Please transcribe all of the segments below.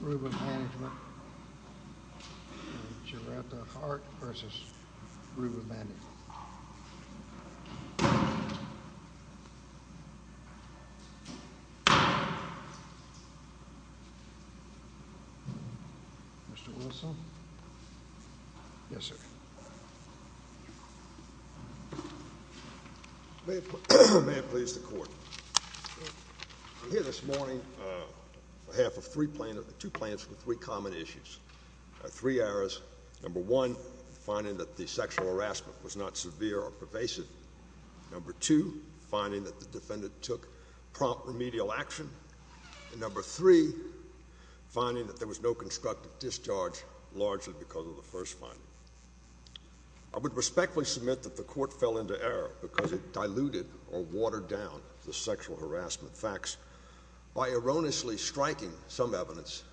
Ruba Management v. Giretta Hart v. Ruba Management Mr. Wilson Yes sir May it please the court I'm here this morning on behalf of three plaintiffs Two plaintiffs with three common issues Three errors Number one, finding that the sexual harassment was not severe or pervasive Number two, finding that the defendant took prompt remedial action And number three, finding that there was no constructive discharge largely because of the first finding I would respectfully submit that the court fell into error Because it diluted or watered down the sexual harassment facts By erroneously striking some evidence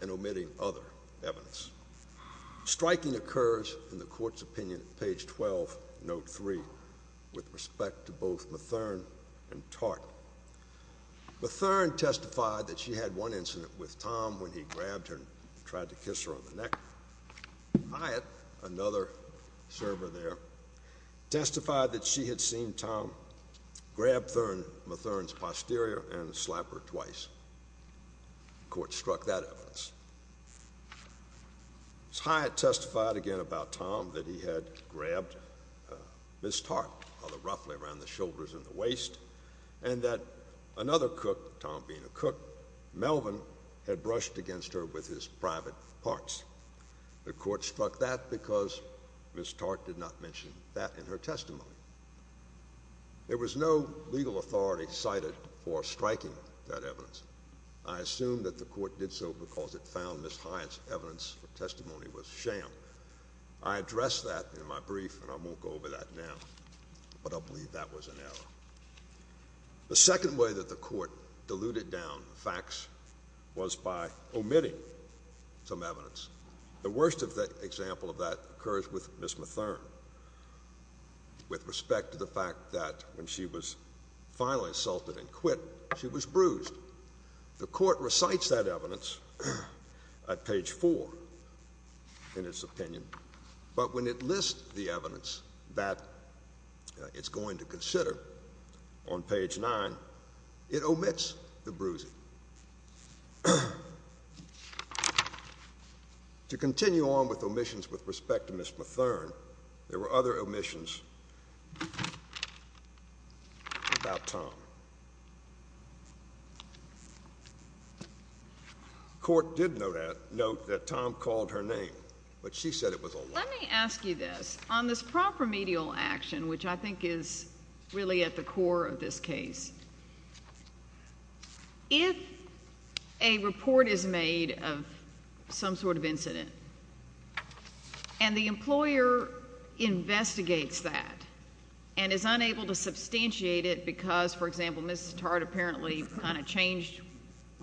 and omitting other evidence Striking occurs, in the court's opinion, page 12, note 3 With respect to both Matherne and Tartt Matherne testified that she had one incident with Tom When he grabbed her and tried to kiss her on the neck Hyatt, another server there Testified that she had seen Tom grab Matherne's posterior and slap her twice The court struck that evidence Hyatt testified again about Tom that he had grabbed Ms. Tartt Roughly around the shoulders and the waist And that another cook, Tom being a cook Melvin had brushed against her with his private parts The court struck that because Ms. Tartt did not mention that in her testimony There was no legal authority cited for striking that evidence I assume that the court did so because it found Ms. Hyatt's evidence or testimony was sham I addressed that in my brief and I won't go over that now But I believe that was an error The second way that the court diluted down facts was by omitting some evidence The worst example of that occurs with Ms. Matherne With respect to the fact that when she was finally assaulted and quit, she was bruised The court recites that evidence at page 4 in its opinion But when it lists the evidence that it's going to consider on page 9, it omits the bruising To continue on with omissions with respect to Ms. Matherne, there were other omissions about Tom The court did note that Tom called her name, but she said it was a lie Let me ask you this, on this proper medial action, which I think is really at the core of this case If a report is made of some sort of incident And the employer investigates that And is unable to substantiate it because, for example, Ms. Sattard apparently kind of changed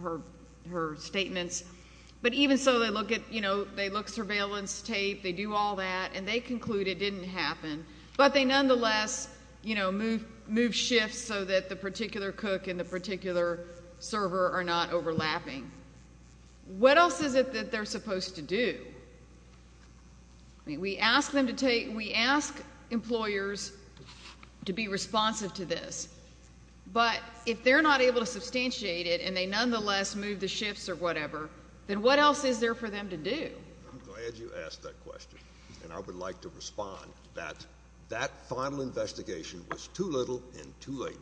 her statements But even so, they look surveillance tape, they do all that, and they conclude it didn't happen But they nonetheless move shifts so that the particular cook and the particular server are not overlapping What else is it that they're supposed to do? We ask employers to be responsive to this But if they're not able to substantiate it and they nonetheless move the shifts or whatever Then what else is there for them to do? I'm glad you asked that question, and I would like to respond That that final investigation was too little and too late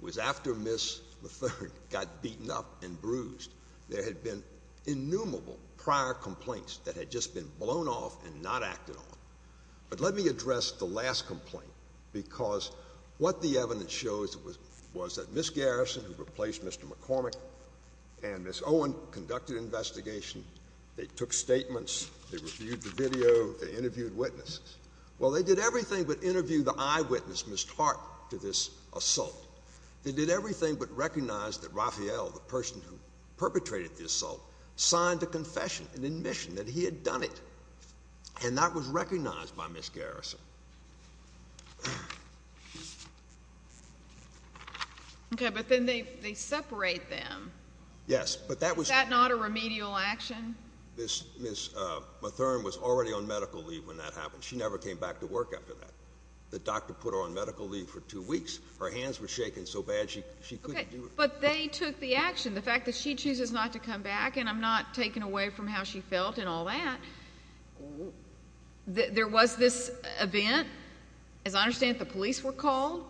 It was after Ms. Matherne got beaten up and bruised There had been innumerable prior complaints that had just been blown off and not acted on But let me address the last complaint Because what the evidence shows was that Ms. Garrison, who replaced Mr. McCormick And Ms. Owen conducted an investigation They took statements, they reviewed the video, they interviewed witnesses Well, they did everything but interview the eyewitness, Ms. Hart, to this assault They did everything but recognize that Raphael, the person who perpetrated the assault Signed a confession, an admission that he had done it And that was recognized by Ms. Garrison Okay, but then they separate them Yes, but that was Is that not a remedial action? Ms. Matherne was already on medical leave when that happened She never came back to work after that The doctor put her on medical leave for two weeks Her hands were shaking so bad she couldn't do it Okay, but they took the action The fact that she chooses not to come back And I'm not taken away from how she felt and all that There was this event As I understand it, the police were called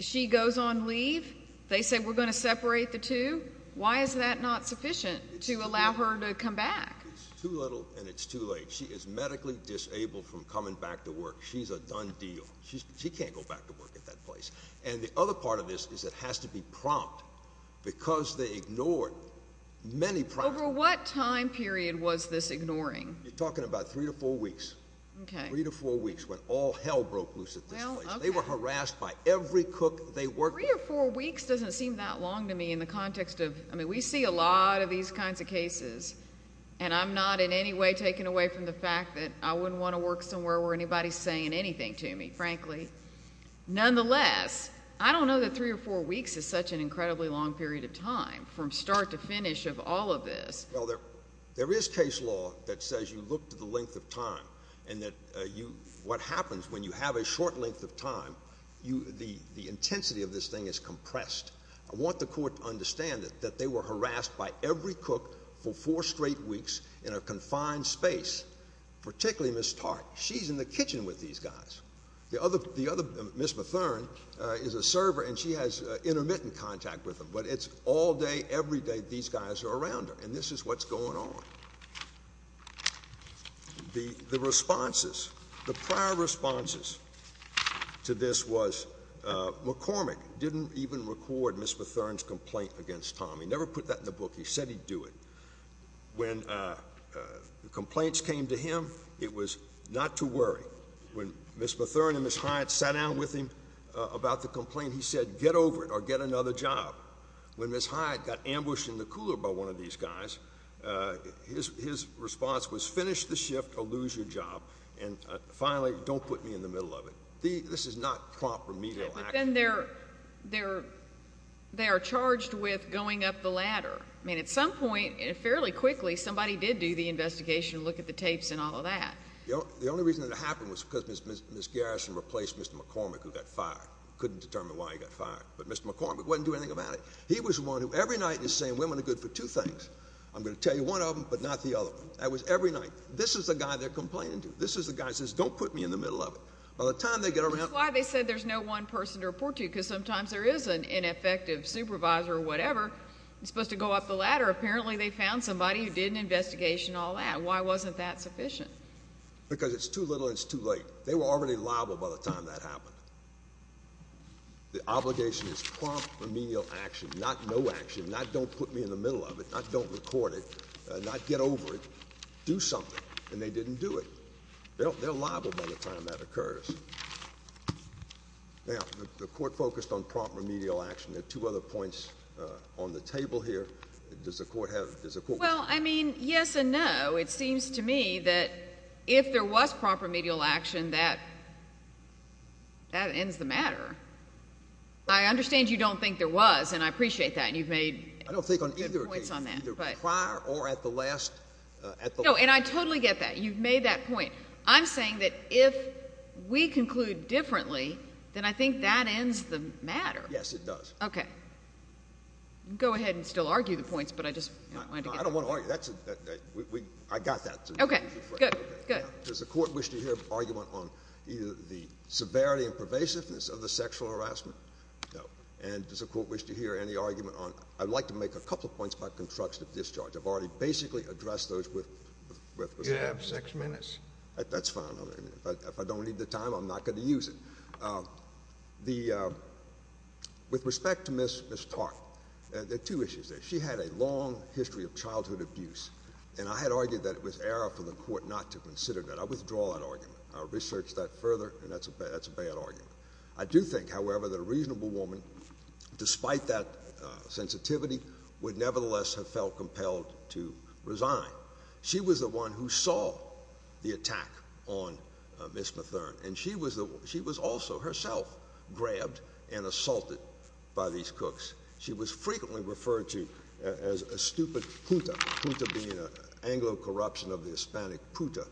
She goes on leave They say we're going to separate the two Why is that not sufficient to allow her to come back? It's too little and it's too late She is medically disabled from coming back to work She's a done deal She can't go back to work at that place And the other part of this is it has to be prompt Because they ignored many prompts Over what time period was this ignoring? You're talking about three to four weeks Three to four weeks when all hell broke loose at this place They were harassed by every cook they worked with Three or four weeks doesn't seem that long to me In the context of, I mean, we see a lot of these kinds of cases And I'm not in any way taken away from the fact that I wouldn't want to work somewhere where anybody's saying anything to me, frankly Nonetheless, I don't know that three or four weeks Is such an incredibly long period of time From start to finish of all of this Well, there is case law that says you look to the length of time And what happens when you have a short length of time The intensity of this thing is compressed I want the court to understand that they were harassed By every cook for four straight weeks in a confined space Particularly Ms. Tartt She's in the kitchen with these guys The other, Ms. Mathurin is a server And she has intermittent contact with them But it's all day, every day these guys are around her And this is what's going on The responses, the prior responses to this was McCormick didn't even record Ms. Mathurin's complaint against Tom He never put that in the book He said he'd do it When complaints came to him, it was not to worry When Ms. Mathurin and Ms. Hyatt sat down with him About the complaint, he said get over it or get another job When Ms. Hyatt got ambushed in the cooler by one of these guys His response was finish the shift or lose your job And finally, don't put me in the middle of it This is not proper media But then they're charged with going up the ladder At some point, fairly quickly, somebody did do the investigation Look at the tapes and all of that The only reason it happened was because Ms. Garrison replaced Mr. McCormick Who got fired Couldn't determine why he got fired But Mr. McCormick wasn't doing anything about it He was the one who every night was saying women are good for two things I'm going to tell you one of them, but not the other one That was every night This is the guy they're complaining to This is the guy who says don't put me in the middle of it By the time they get around That's why they said there's no one person to report to Because sometimes there is an ineffective supervisor or whatever Supposed to go up the ladder Apparently they found somebody who did an investigation and all that Why wasn't that sufficient? Because it's too little and it's too late They were already liable by the time that happened The obligation is prompt remedial action Not no action Not don't put me in the middle of it Not don't record it Not get over it Do something And they didn't do it They're liable by the time that occurs Now, the court focused on prompt remedial action There are two other points on the table here Does the court have Well, I mean, yes and no It seems to me that if there was prompt remedial action That ends the matter I understand you don't think there was And you've made points on that I don't think on either case Either prior or at the last No, and I totally get that You've made that point I'm saying that if we conclude differently Then I think that ends the matter Yes, it does Okay Go ahead and still argue the points But I just wanted to get I don't want to argue I got that Okay, good, good Does the court wish to hear an argument on Either the severity and pervasiveness Of the sexual harassment? No And does the court wish to hear any argument on I'd like to make a couple of points About construction of discharge I've already basically addressed those with You have six minutes That's fine If I don't need the time I'm not going to use it With respect to Ms. Tartt There are two issues there She had a long history of childhood abuse And I had argued that it was Error for the court not to consider that I withdraw that argument I'll research that further And that's a bad argument I do think, however, that a reasonable woman Despite that sensitivity Would nevertheless have felt compelled To resign She was the one who saw The attack on Ms. Matherne And she was also herself Grabbed and assaulted by these cooks She was frequently referred to As a stupid puta Puta being an Anglo corruption Of the Hispanic puta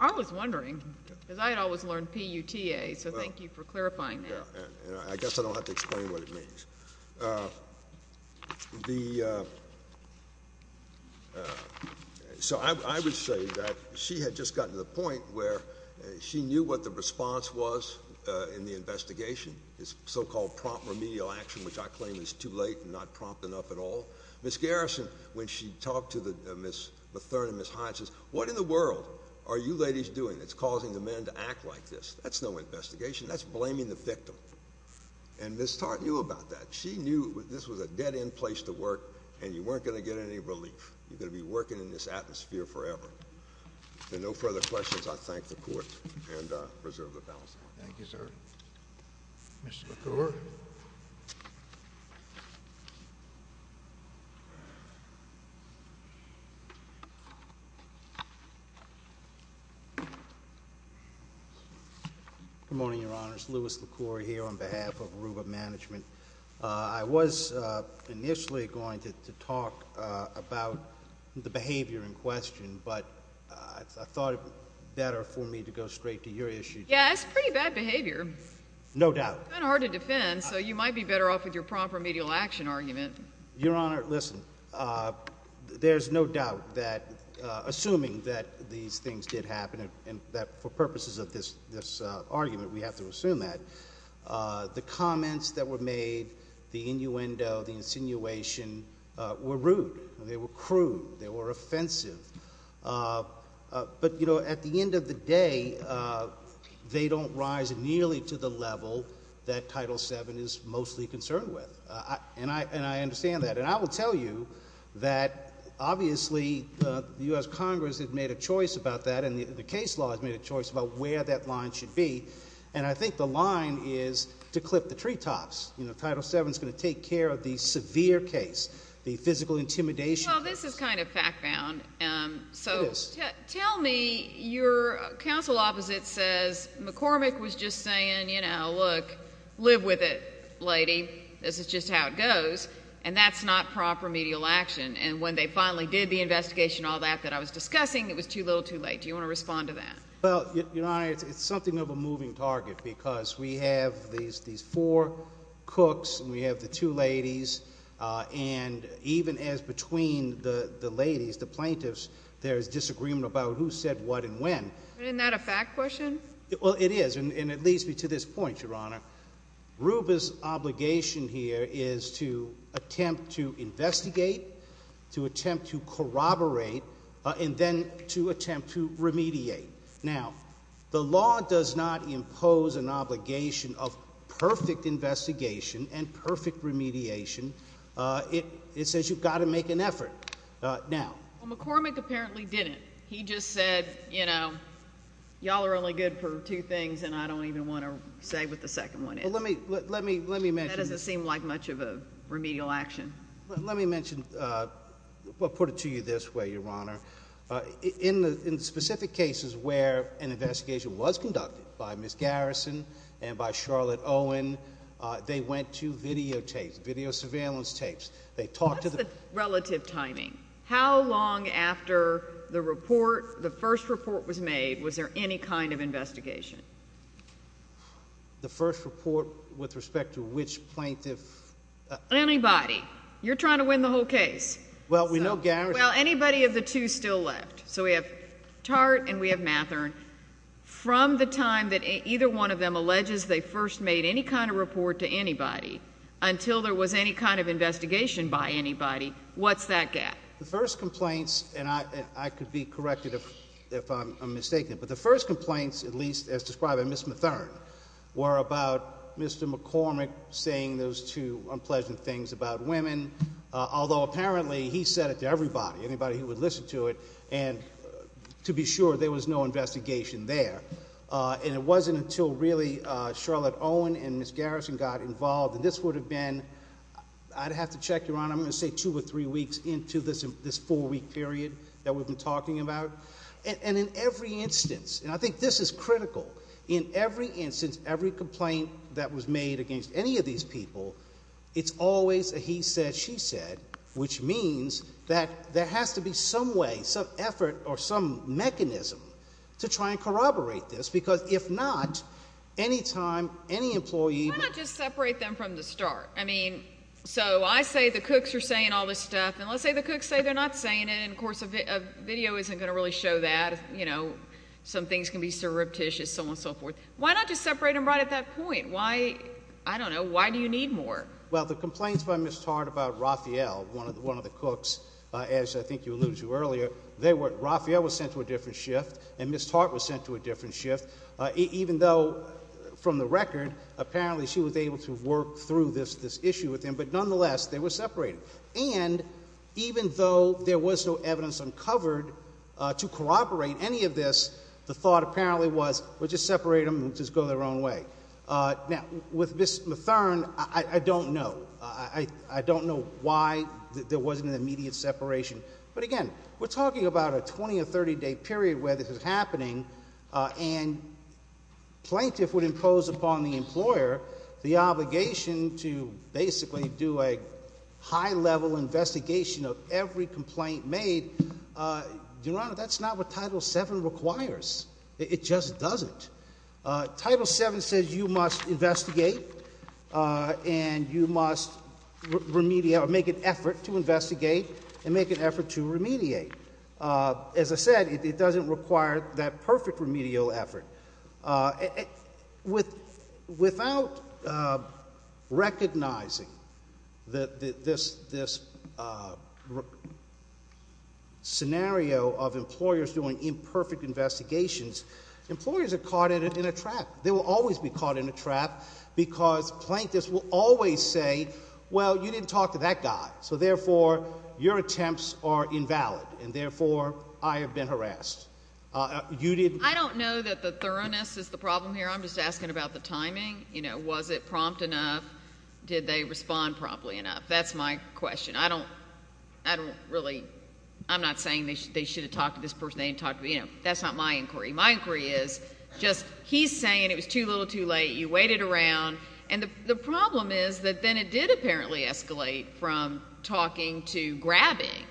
I was wondering Because I had always learned P-U-T-A So thank you for clarifying that I guess I don't have to explain what it means So I would say that She had just gotten to the point where She knew what the response was In the investigation This so-called prompt remedial action Which I claim is too late And not prompt enough at all Ms. Garrison, when she talked to Ms. Matherne and Ms. Hyatt Says, what in the world are you ladies doing That's causing the men to act like this That's no investigation That's blaming the victim And Ms. Tartt knew about that She knew this was a dead-end place to work And you weren't going to get any relief You're going to be working In this atmosphere forever If there are no further questions I thank the Court And reserve the balance of my time Thank you, sir Mr. LaCour Good morning, Your Honor It's Louis LaCour here On behalf of Aruba Management I was initially going to talk About the behavior in question But I thought it better For me to go straight to your issue Yeah, that's pretty bad behavior No doubt It's been hard to defend So you might be better off With your prompt remedial action argument Your Honor, listen There's no doubt that Assuming that these things did happen And that for purposes of this argument We have to assume that The comments that were made The innuendo, the insinuation Were rude They were crude They were offensive But, you know, at the end of the day They don't rise nearly to the level That Title VII is mostly concerned with And I understand that And I will tell you That obviously The U.S. Congress Has made a choice about that And the case law has made a choice About where that line should be And I think the line is To clip the treetops You know, Title VII's going to take care Of the severe case The physical intimidation Well, this is kind of fact-bound It is So tell me Your counsel opposite says McCormick was just saying You know, look Live with it, lady This is just how it goes And that's not proper remedial action And when they finally did The investigation and all that That I was discussing It was too little too late Do you want to respond to that? Well, Your Honor It's something of a moving target Because we have these four cooks And we have the two ladies And even as between the ladies The plaintiffs There's disagreement about Who said what and when Isn't that a fact question? Well, it is And it leads me to this point, Your Honor Ruba's obligation here Is to attempt to investigate To attempt to corroborate And then to attempt to remediate Now, the law does not impose An obligation of perfect investigation And perfect remediation It says you've got to make an effort Now Well, McCormick apparently didn't He just said, you know Y'all are only good for two things And I don't even want to say What the second one is Well, let me mention That doesn't seem like much of a remedial action Let me mention I'll put it to you this way, Your Honor In the specific cases Where an investigation was conducted By Ms. Garrison And by Charlotte Owen They went to videotapes Video surveillance tapes They talked to the What's the relative timing? How long after the report The first report was made Was there any kind of investigation? The first report With respect to which plaintiff Anybody You're trying to win the whole case Well, we know Garrison Well, anybody of the two still left So we have Tartt and we have Mathern From the time that either one of them First made any kind of report to anybody Until there was any kind of investigation By anybody What's that gap? The first complaints And I could be corrected if I'm mistaken But the first complaints At least as described by Ms. Mathern Were about Mr. McCormick Saying those two unpleasant things about women Although apparently He said it to everybody Anybody who would listen to it And to be sure there was no investigation there And it wasn't until really Charlotte Owen and Ms. Garrison Got involved and this would have been I'd have to check, Your Honor I'm going to say two or three weeks into this Four week period that we've been talking about And in every instance And I think this is critical In every instance, every complaint That was made against any of these people It's always a he said, she said Which means That there has to be some way Some effort or some mechanism To try and corroborate this Because if not Any time, any employee Why not just separate them from the start? I mean, so I say the cooks are saying all this stuff And let's say the cooks say they're not saying it And of course a video isn't going to really show that You know Some things can be surreptitious, so on and so forth Why not just separate them right at that point? Why, I don't know, why do you need more? Well, the complaints by Ms. Tarr About Raphael, one of the cooks As I think you alluded to earlier They were, Raphael was sent to a different shift And Ms. Tarr was sent to a different shift Even though From the record, apparently she was able To work through this issue with him But nonetheless, they were separated And even though there was No evidence uncovered To corroborate any of this The thought apparently was, we'll just separate them And just go their own way Now, with Ms. Mathern I don't know I don't know why there wasn't an immediate separation But again, we're talking about a 20 or 30 day period where this is happening And Plaintiff would impose upon the Employer the obligation To basically do a High level investigation Of every complaint made Your Honor, that's not what Title VII Requires It just doesn't Title VII says you must investigate And you must Remediate, or make an effort To investigate and make an effort To remediate As I said, it doesn't require that perfect Remedial effort Without Recognizing This Scenario of employers doing Imperfect investigations Employers are caught in a trap They will always be caught in a trap Because plaintiffs will always say Well, you didn't talk to that guy So therefore, your attempts Are invalid, and therefore I have been harassed I don't know that the thoroughness Is the problem here, I'm just asking about the timing You know, was it prompt enough Did they respond promptly enough That's my question I don't really I'm not saying they should have talked to this person That's not my inquiry My inquiry is, he's saying It was too little too late, you waited around And the problem is That then it did apparently escalate From talking to grabbing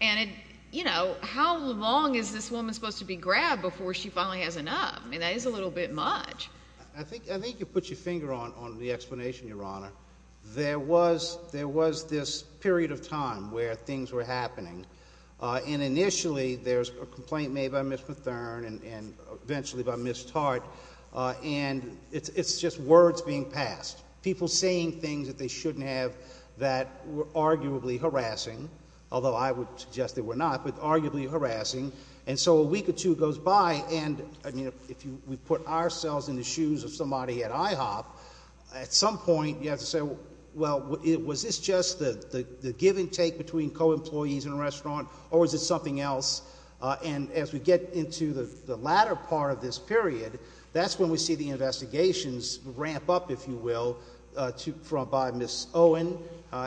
And it, you know How long is this woman supposed to be grabbed Before she finally has enough I mean, that is a little bit much I think you put your finger on the explanation Your honor There was this period of time Where things were happening And initially, there's a complaint Made by Ms. Mathern And eventually by Ms. Tartt And it's just words being passed People saying things That they shouldn't have That were arguably harassing Although I would suggest they were not But arguably harassing And so a week or two goes by And if we put ourselves in the shoes Of somebody at IHOP At some point, you have to say Well, was this just the give and take Between co-employees in a restaurant Or was it something else And as we get into the latter part Of this period, that's when we see The investigations ramp up If you will By Ms. Owen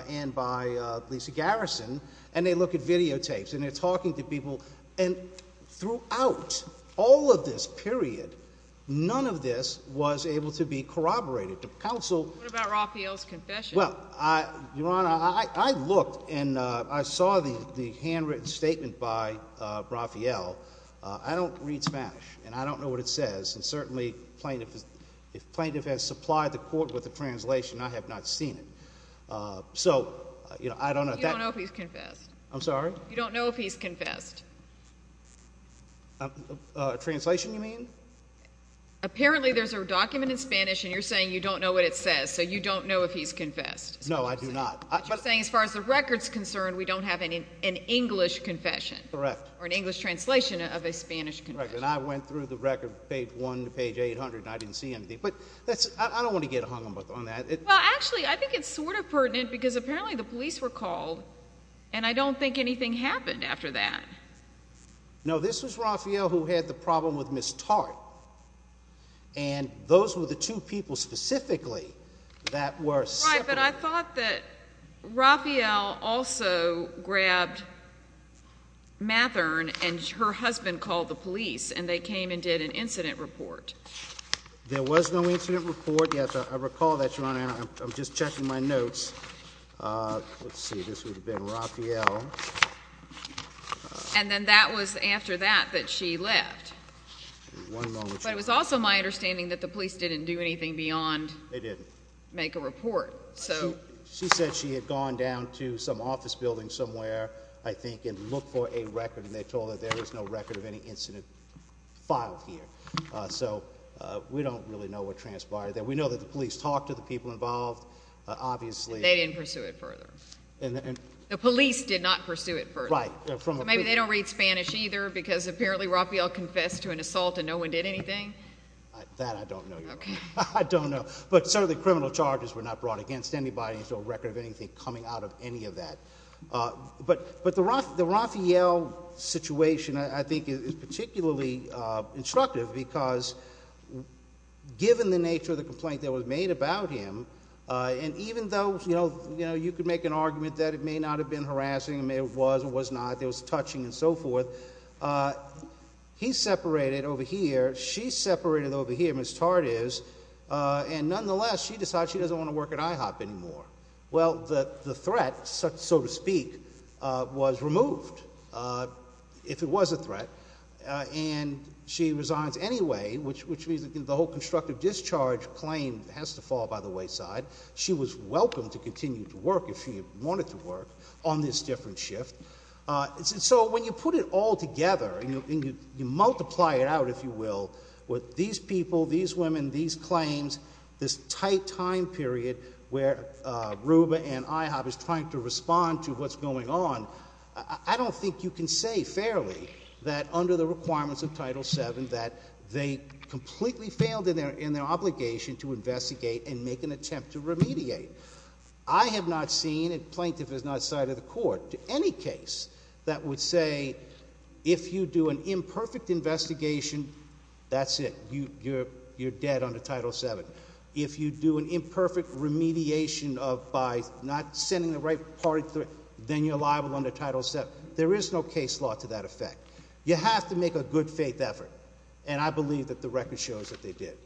and by Lisa Garrison And they look at videotapes And they're talking to people And throughout all of this period None of this was able to be Corroborated What about Raphael's confession Your honor, I looked And I saw the handwritten statement By Raphael I don't read Spanish And I don't know what it says And certainly if plaintiff has supplied The court with a translation I have not seen it You don't know if he's confessed I'm sorry? You don't know if he's confessed Translation you mean? Apparently there's a document in Spanish And you're saying you don't know what it says So you don't know if he's confessed No, I do not As far as the record is concerned We don't have an English confession Correct Or an English translation of a Spanish confession And I went through the record, page 1 to page 800 And I didn't see anything But I don't want to get hung up on that Well actually I think it's sort of pertinent Because apparently the police were called And I don't think anything happened after that No, this was Raphael Who had the problem with Ms. Tart And those were the two people Specifically That were separated But I thought that Raphael Also grabbed Mathern And her husband called the police And they came and did an incident report There was no incident report Yes, I recall that Your Honor I'm just checking my notes Let's see, this would have been Raphael And then that was after that That she left But it was also my understanding That the police didn't do anything beyond Make a report She said she had gone down To some office building somewhere I think and looked for a record And they told her there was no record of any incident Filed here So we don't really know what transpired We know that the police talked to the people involved Obviously They didn't pursue it further The police did not pursue it further Maybe they don't read Spanish either Because apparently Raphael confessed to an assault And no one did anything That I don't know Your Honor I don't know But certainly criminal charges were not brought against anybody There's no record of anything coming out of any of that But the Raphael Situation I think is particularly Instructive because Given the nature of the complaint That was made about him And even though you could make an argument That it may not have been harassing It was or was not There was touching and so forth But He separated over here She separated over here And nonetheless She decided she doesn't want to work at IHOP anymore Well the threat So to speak Was removed If it was a threat And she resigns anyway Which means the whole constructive discharge Claim has to fall by the wayside She was welcome to continue to work If she wanted to work On this different shift So when you put it all together And you multiply it out If you will With these people, these women, these claims This tight time period Where RUBA and IHOP Is trying to respond to what's going on I don't think you can say Fairly that under the requirements Of Title VII That they completely failed in their Obligation to investigate And make an attempt to remediate I have not seen Plaintiff has not cited the court To any case that would say If you do an imperfect investigation That's it You're dead under Title VII If you do an imperfect remediation By not sending the right party Then you're liable Under Title VII There is no case law to that effect You have to make a good faith effort And I believe that the record shows that they did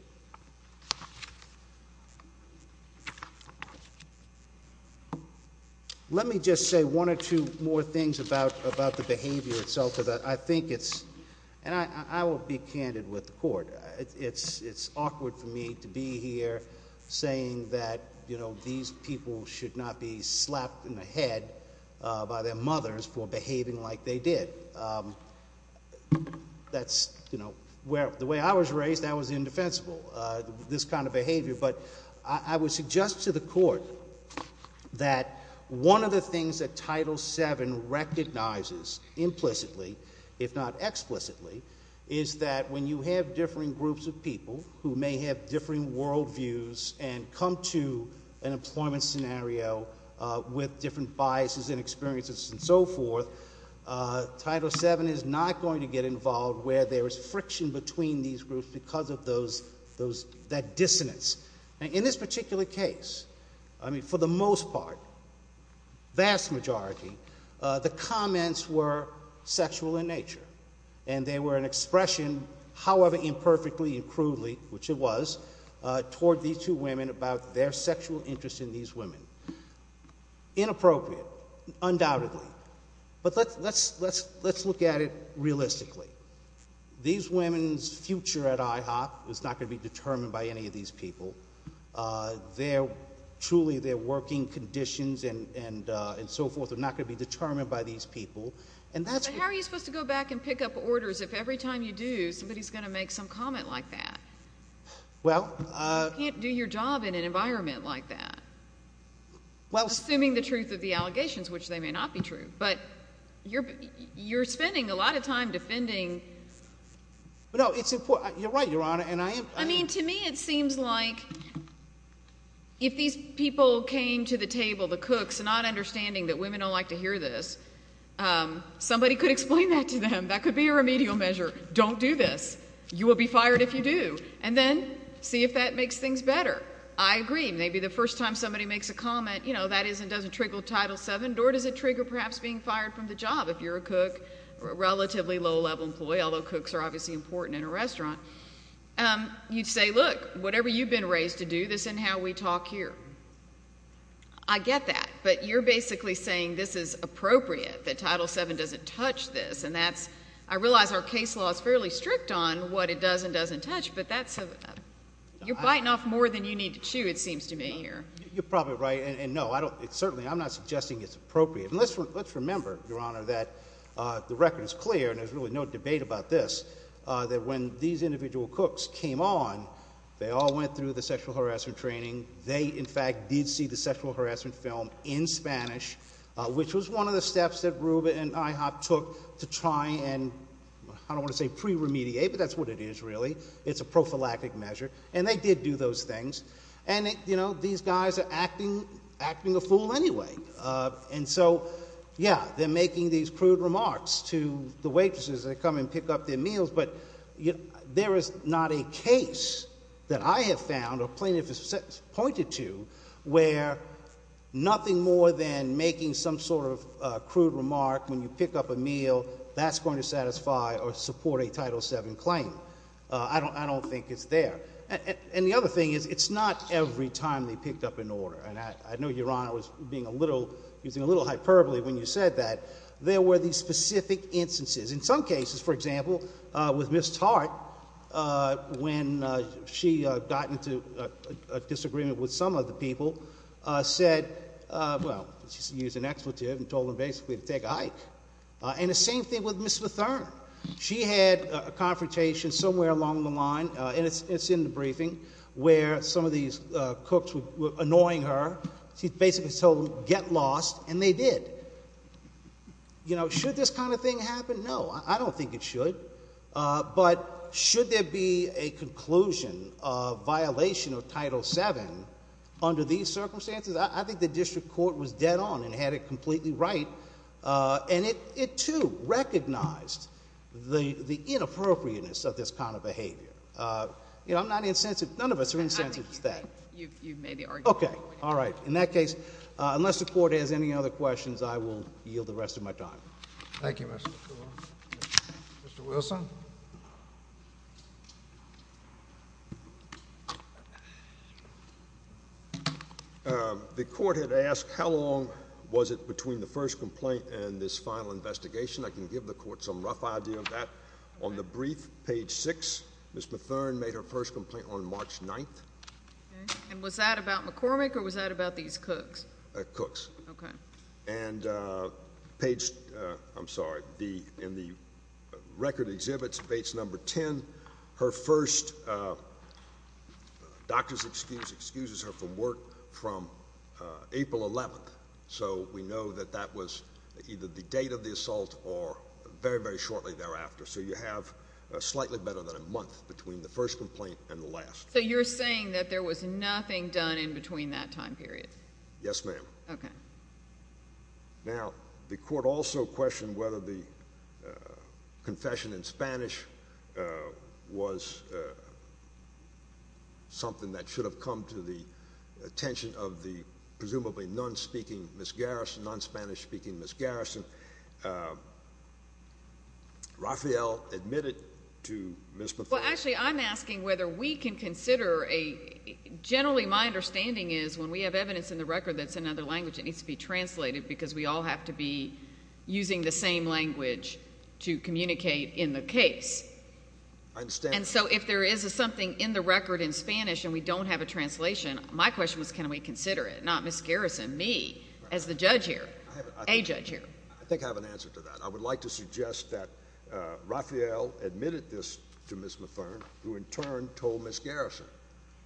Let me just say One or two more things About the behavior itself And I will be Candid with the court It's awkward for me to be here Saying that These people should not be Slapped in the head By their mothers for behaving like they did That's The way I was raised That was indefensible This kind of behavior But I would suggest to the court That One of the things that Title VII Recognizes implicitly If not explicitly Is that when you have Differing groups of people who may have Differing world views and come To an employment scenario With different biases And experiences and so forth Title VII is not Going to get involved where there is friction Between these groups because of those That dissonance In this particular case For the most part Vast majority The comments were sexual In nature and they were an expression However imperfectly And crudely, which it was Toward these two women about their sexual Interest in these women Inappropriate Undoubtedly But let's look at it realistically These women's Future at IHOP is not going to be Determined by any of these people Their Truly their working conditions And so forth are not going to be determined By these people How are you supposed to go back and pick up orders If every time you do somebody is going to make some comment Like that You can't do your job in an environment Like that Assuming the truth of the allegations Which they may not be true But you're spending a lot of time Defending No it's important I mean to me it seems like If these people Came to the table The cooks not understanding that women don't like to hear this Somebody could explain That to them that could be a remedial measure Don't do this You will be fired if you do And then see if that makes things better I agree maybe the first time somebody makes a comment You know that is and doesn't trigger title 7 Or does it trigger perhaps being fired from the job If you're a cook Or a relatively low level employee Although cooks are obviously important in a restaurant You'd say look Whatever you've been raised to do This and how we talk here I get that But you're basically saying this is appropriate That title 7 doesn't touch this And that's I realize our case law is fairly strict On what it does and doesn't touch But that's You're biting off more than you need to chew It seems to me here You're probably right Certainly I'm not suggesting it's appropriate Let's remember your honor that The record is clear and there's really no debate about this That when these individual cooks Came on They all went through the sexual harassment training They in fact did see the sexual harassment film In Spanish Which was one of the steps that Ruben and IHOP Took to try and I don't want to say pre-remediate But that's what it is really It's a prophylactic measure And they did do those things And these guys are acting Acting a fool anyway And so yeah They're making these crude remarks To the waitresses that come and pick up their meals But there is not a case That I have found Or pointed to Where Nothing more than making some sort of Crude remark when you pick up a meal That's going to satisfy Or support a title 7 claim I don't think it's there And the other thing is It's not every time they picked up an order And I know your honor was being a little Using a little hyperbole when you said that There were these specific instances In some cases for example With Ms. Tart When she got into A disagreement with some of the people Said Well she used an expletive And told them basically to take a hike And the same thing with Ms. Matherne She had a confrontation Somewhere along the line And it's in the briefing Where some of these cooks were annoying her She basically told them Get lost and they did You know should this kind of thing happen No I don't think it should But should there be A conclusion of Violation of title 7 Under these circumstances I think the district court was dead on And had it completely right And it too Recognized The inappropriateness of this kind of behavior You know I'm not insensitive None of us are insensitive to that Okay alright Unless the court has any other questions I will yield the rest of my time Thank you Mr. Wilson The court had asked How long was it between the first Complaint and this final investigation I can give the court some rough idea of that On the brief page 6 Ms. Matherne made her first complaint On March 9th And was that about McCormick or was that about these Cooks? Cooks And page I'm sorry In the record exhibits Page number 10 Her first Doctor's excuse Excuses her from work From April 11th So we know that that was Either the date of the assault or Very very shortly thereafter So you have slightly better than a month Between the first complaint and the last So you're saying that there was nothing done In between that time period Yes ma'am Now the court also questioned Whether the Confession in Spanish Was Something That should have come to the Attention of the presumably Non-speaking Ms. Garrison Non-Spanish speaking Ms. Garrison Rafael Admitted to Ms. Matherne Well actually I'm asking whether we can consider Generally my understanding is When we have evidence in the record that's in another language It needs to be translated because we all have to be Using the same language To communicate in the case I understand And so if there is something in the record in Spanish And we don't have a translation My question was can we consider it Not Ms. Garrison me as the judge here A judge here I think I have an answer to that I would like to suggest that Rafael Admitted this to Ms. Matherne Who in turn told Ms. Garrison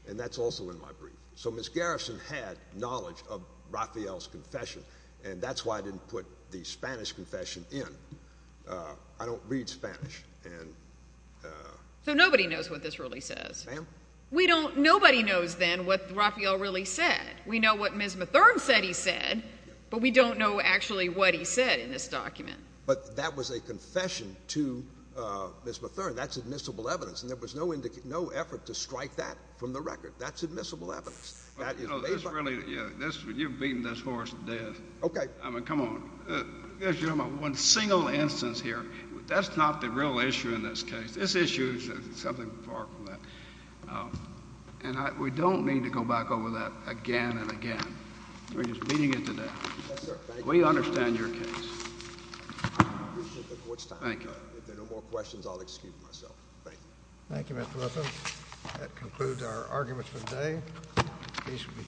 And that's also in my brief So Ms. Garrison had knowledge of Rafael's confession And that's why I didn't put The Spanish confession in I don't read Spanish So nobody knows what this really says We don't, nobody knows then What Rafael really said We know what Ms. Matherne said he said But we don't know actually what he said In this document But that was a confession to Ms. Matherne That's admissible evidence And there was no effort to strike that from the record That's admissible evidence You're beating this horse to death Okay I mean come on One single instance here That's not the real issue in this case This issue is something far from that And we don't need to go back over that Again and again We're just beating it to death We understand your case Thank you If there are no more questions I'll excuse myself Thank you That concludes our arguments for today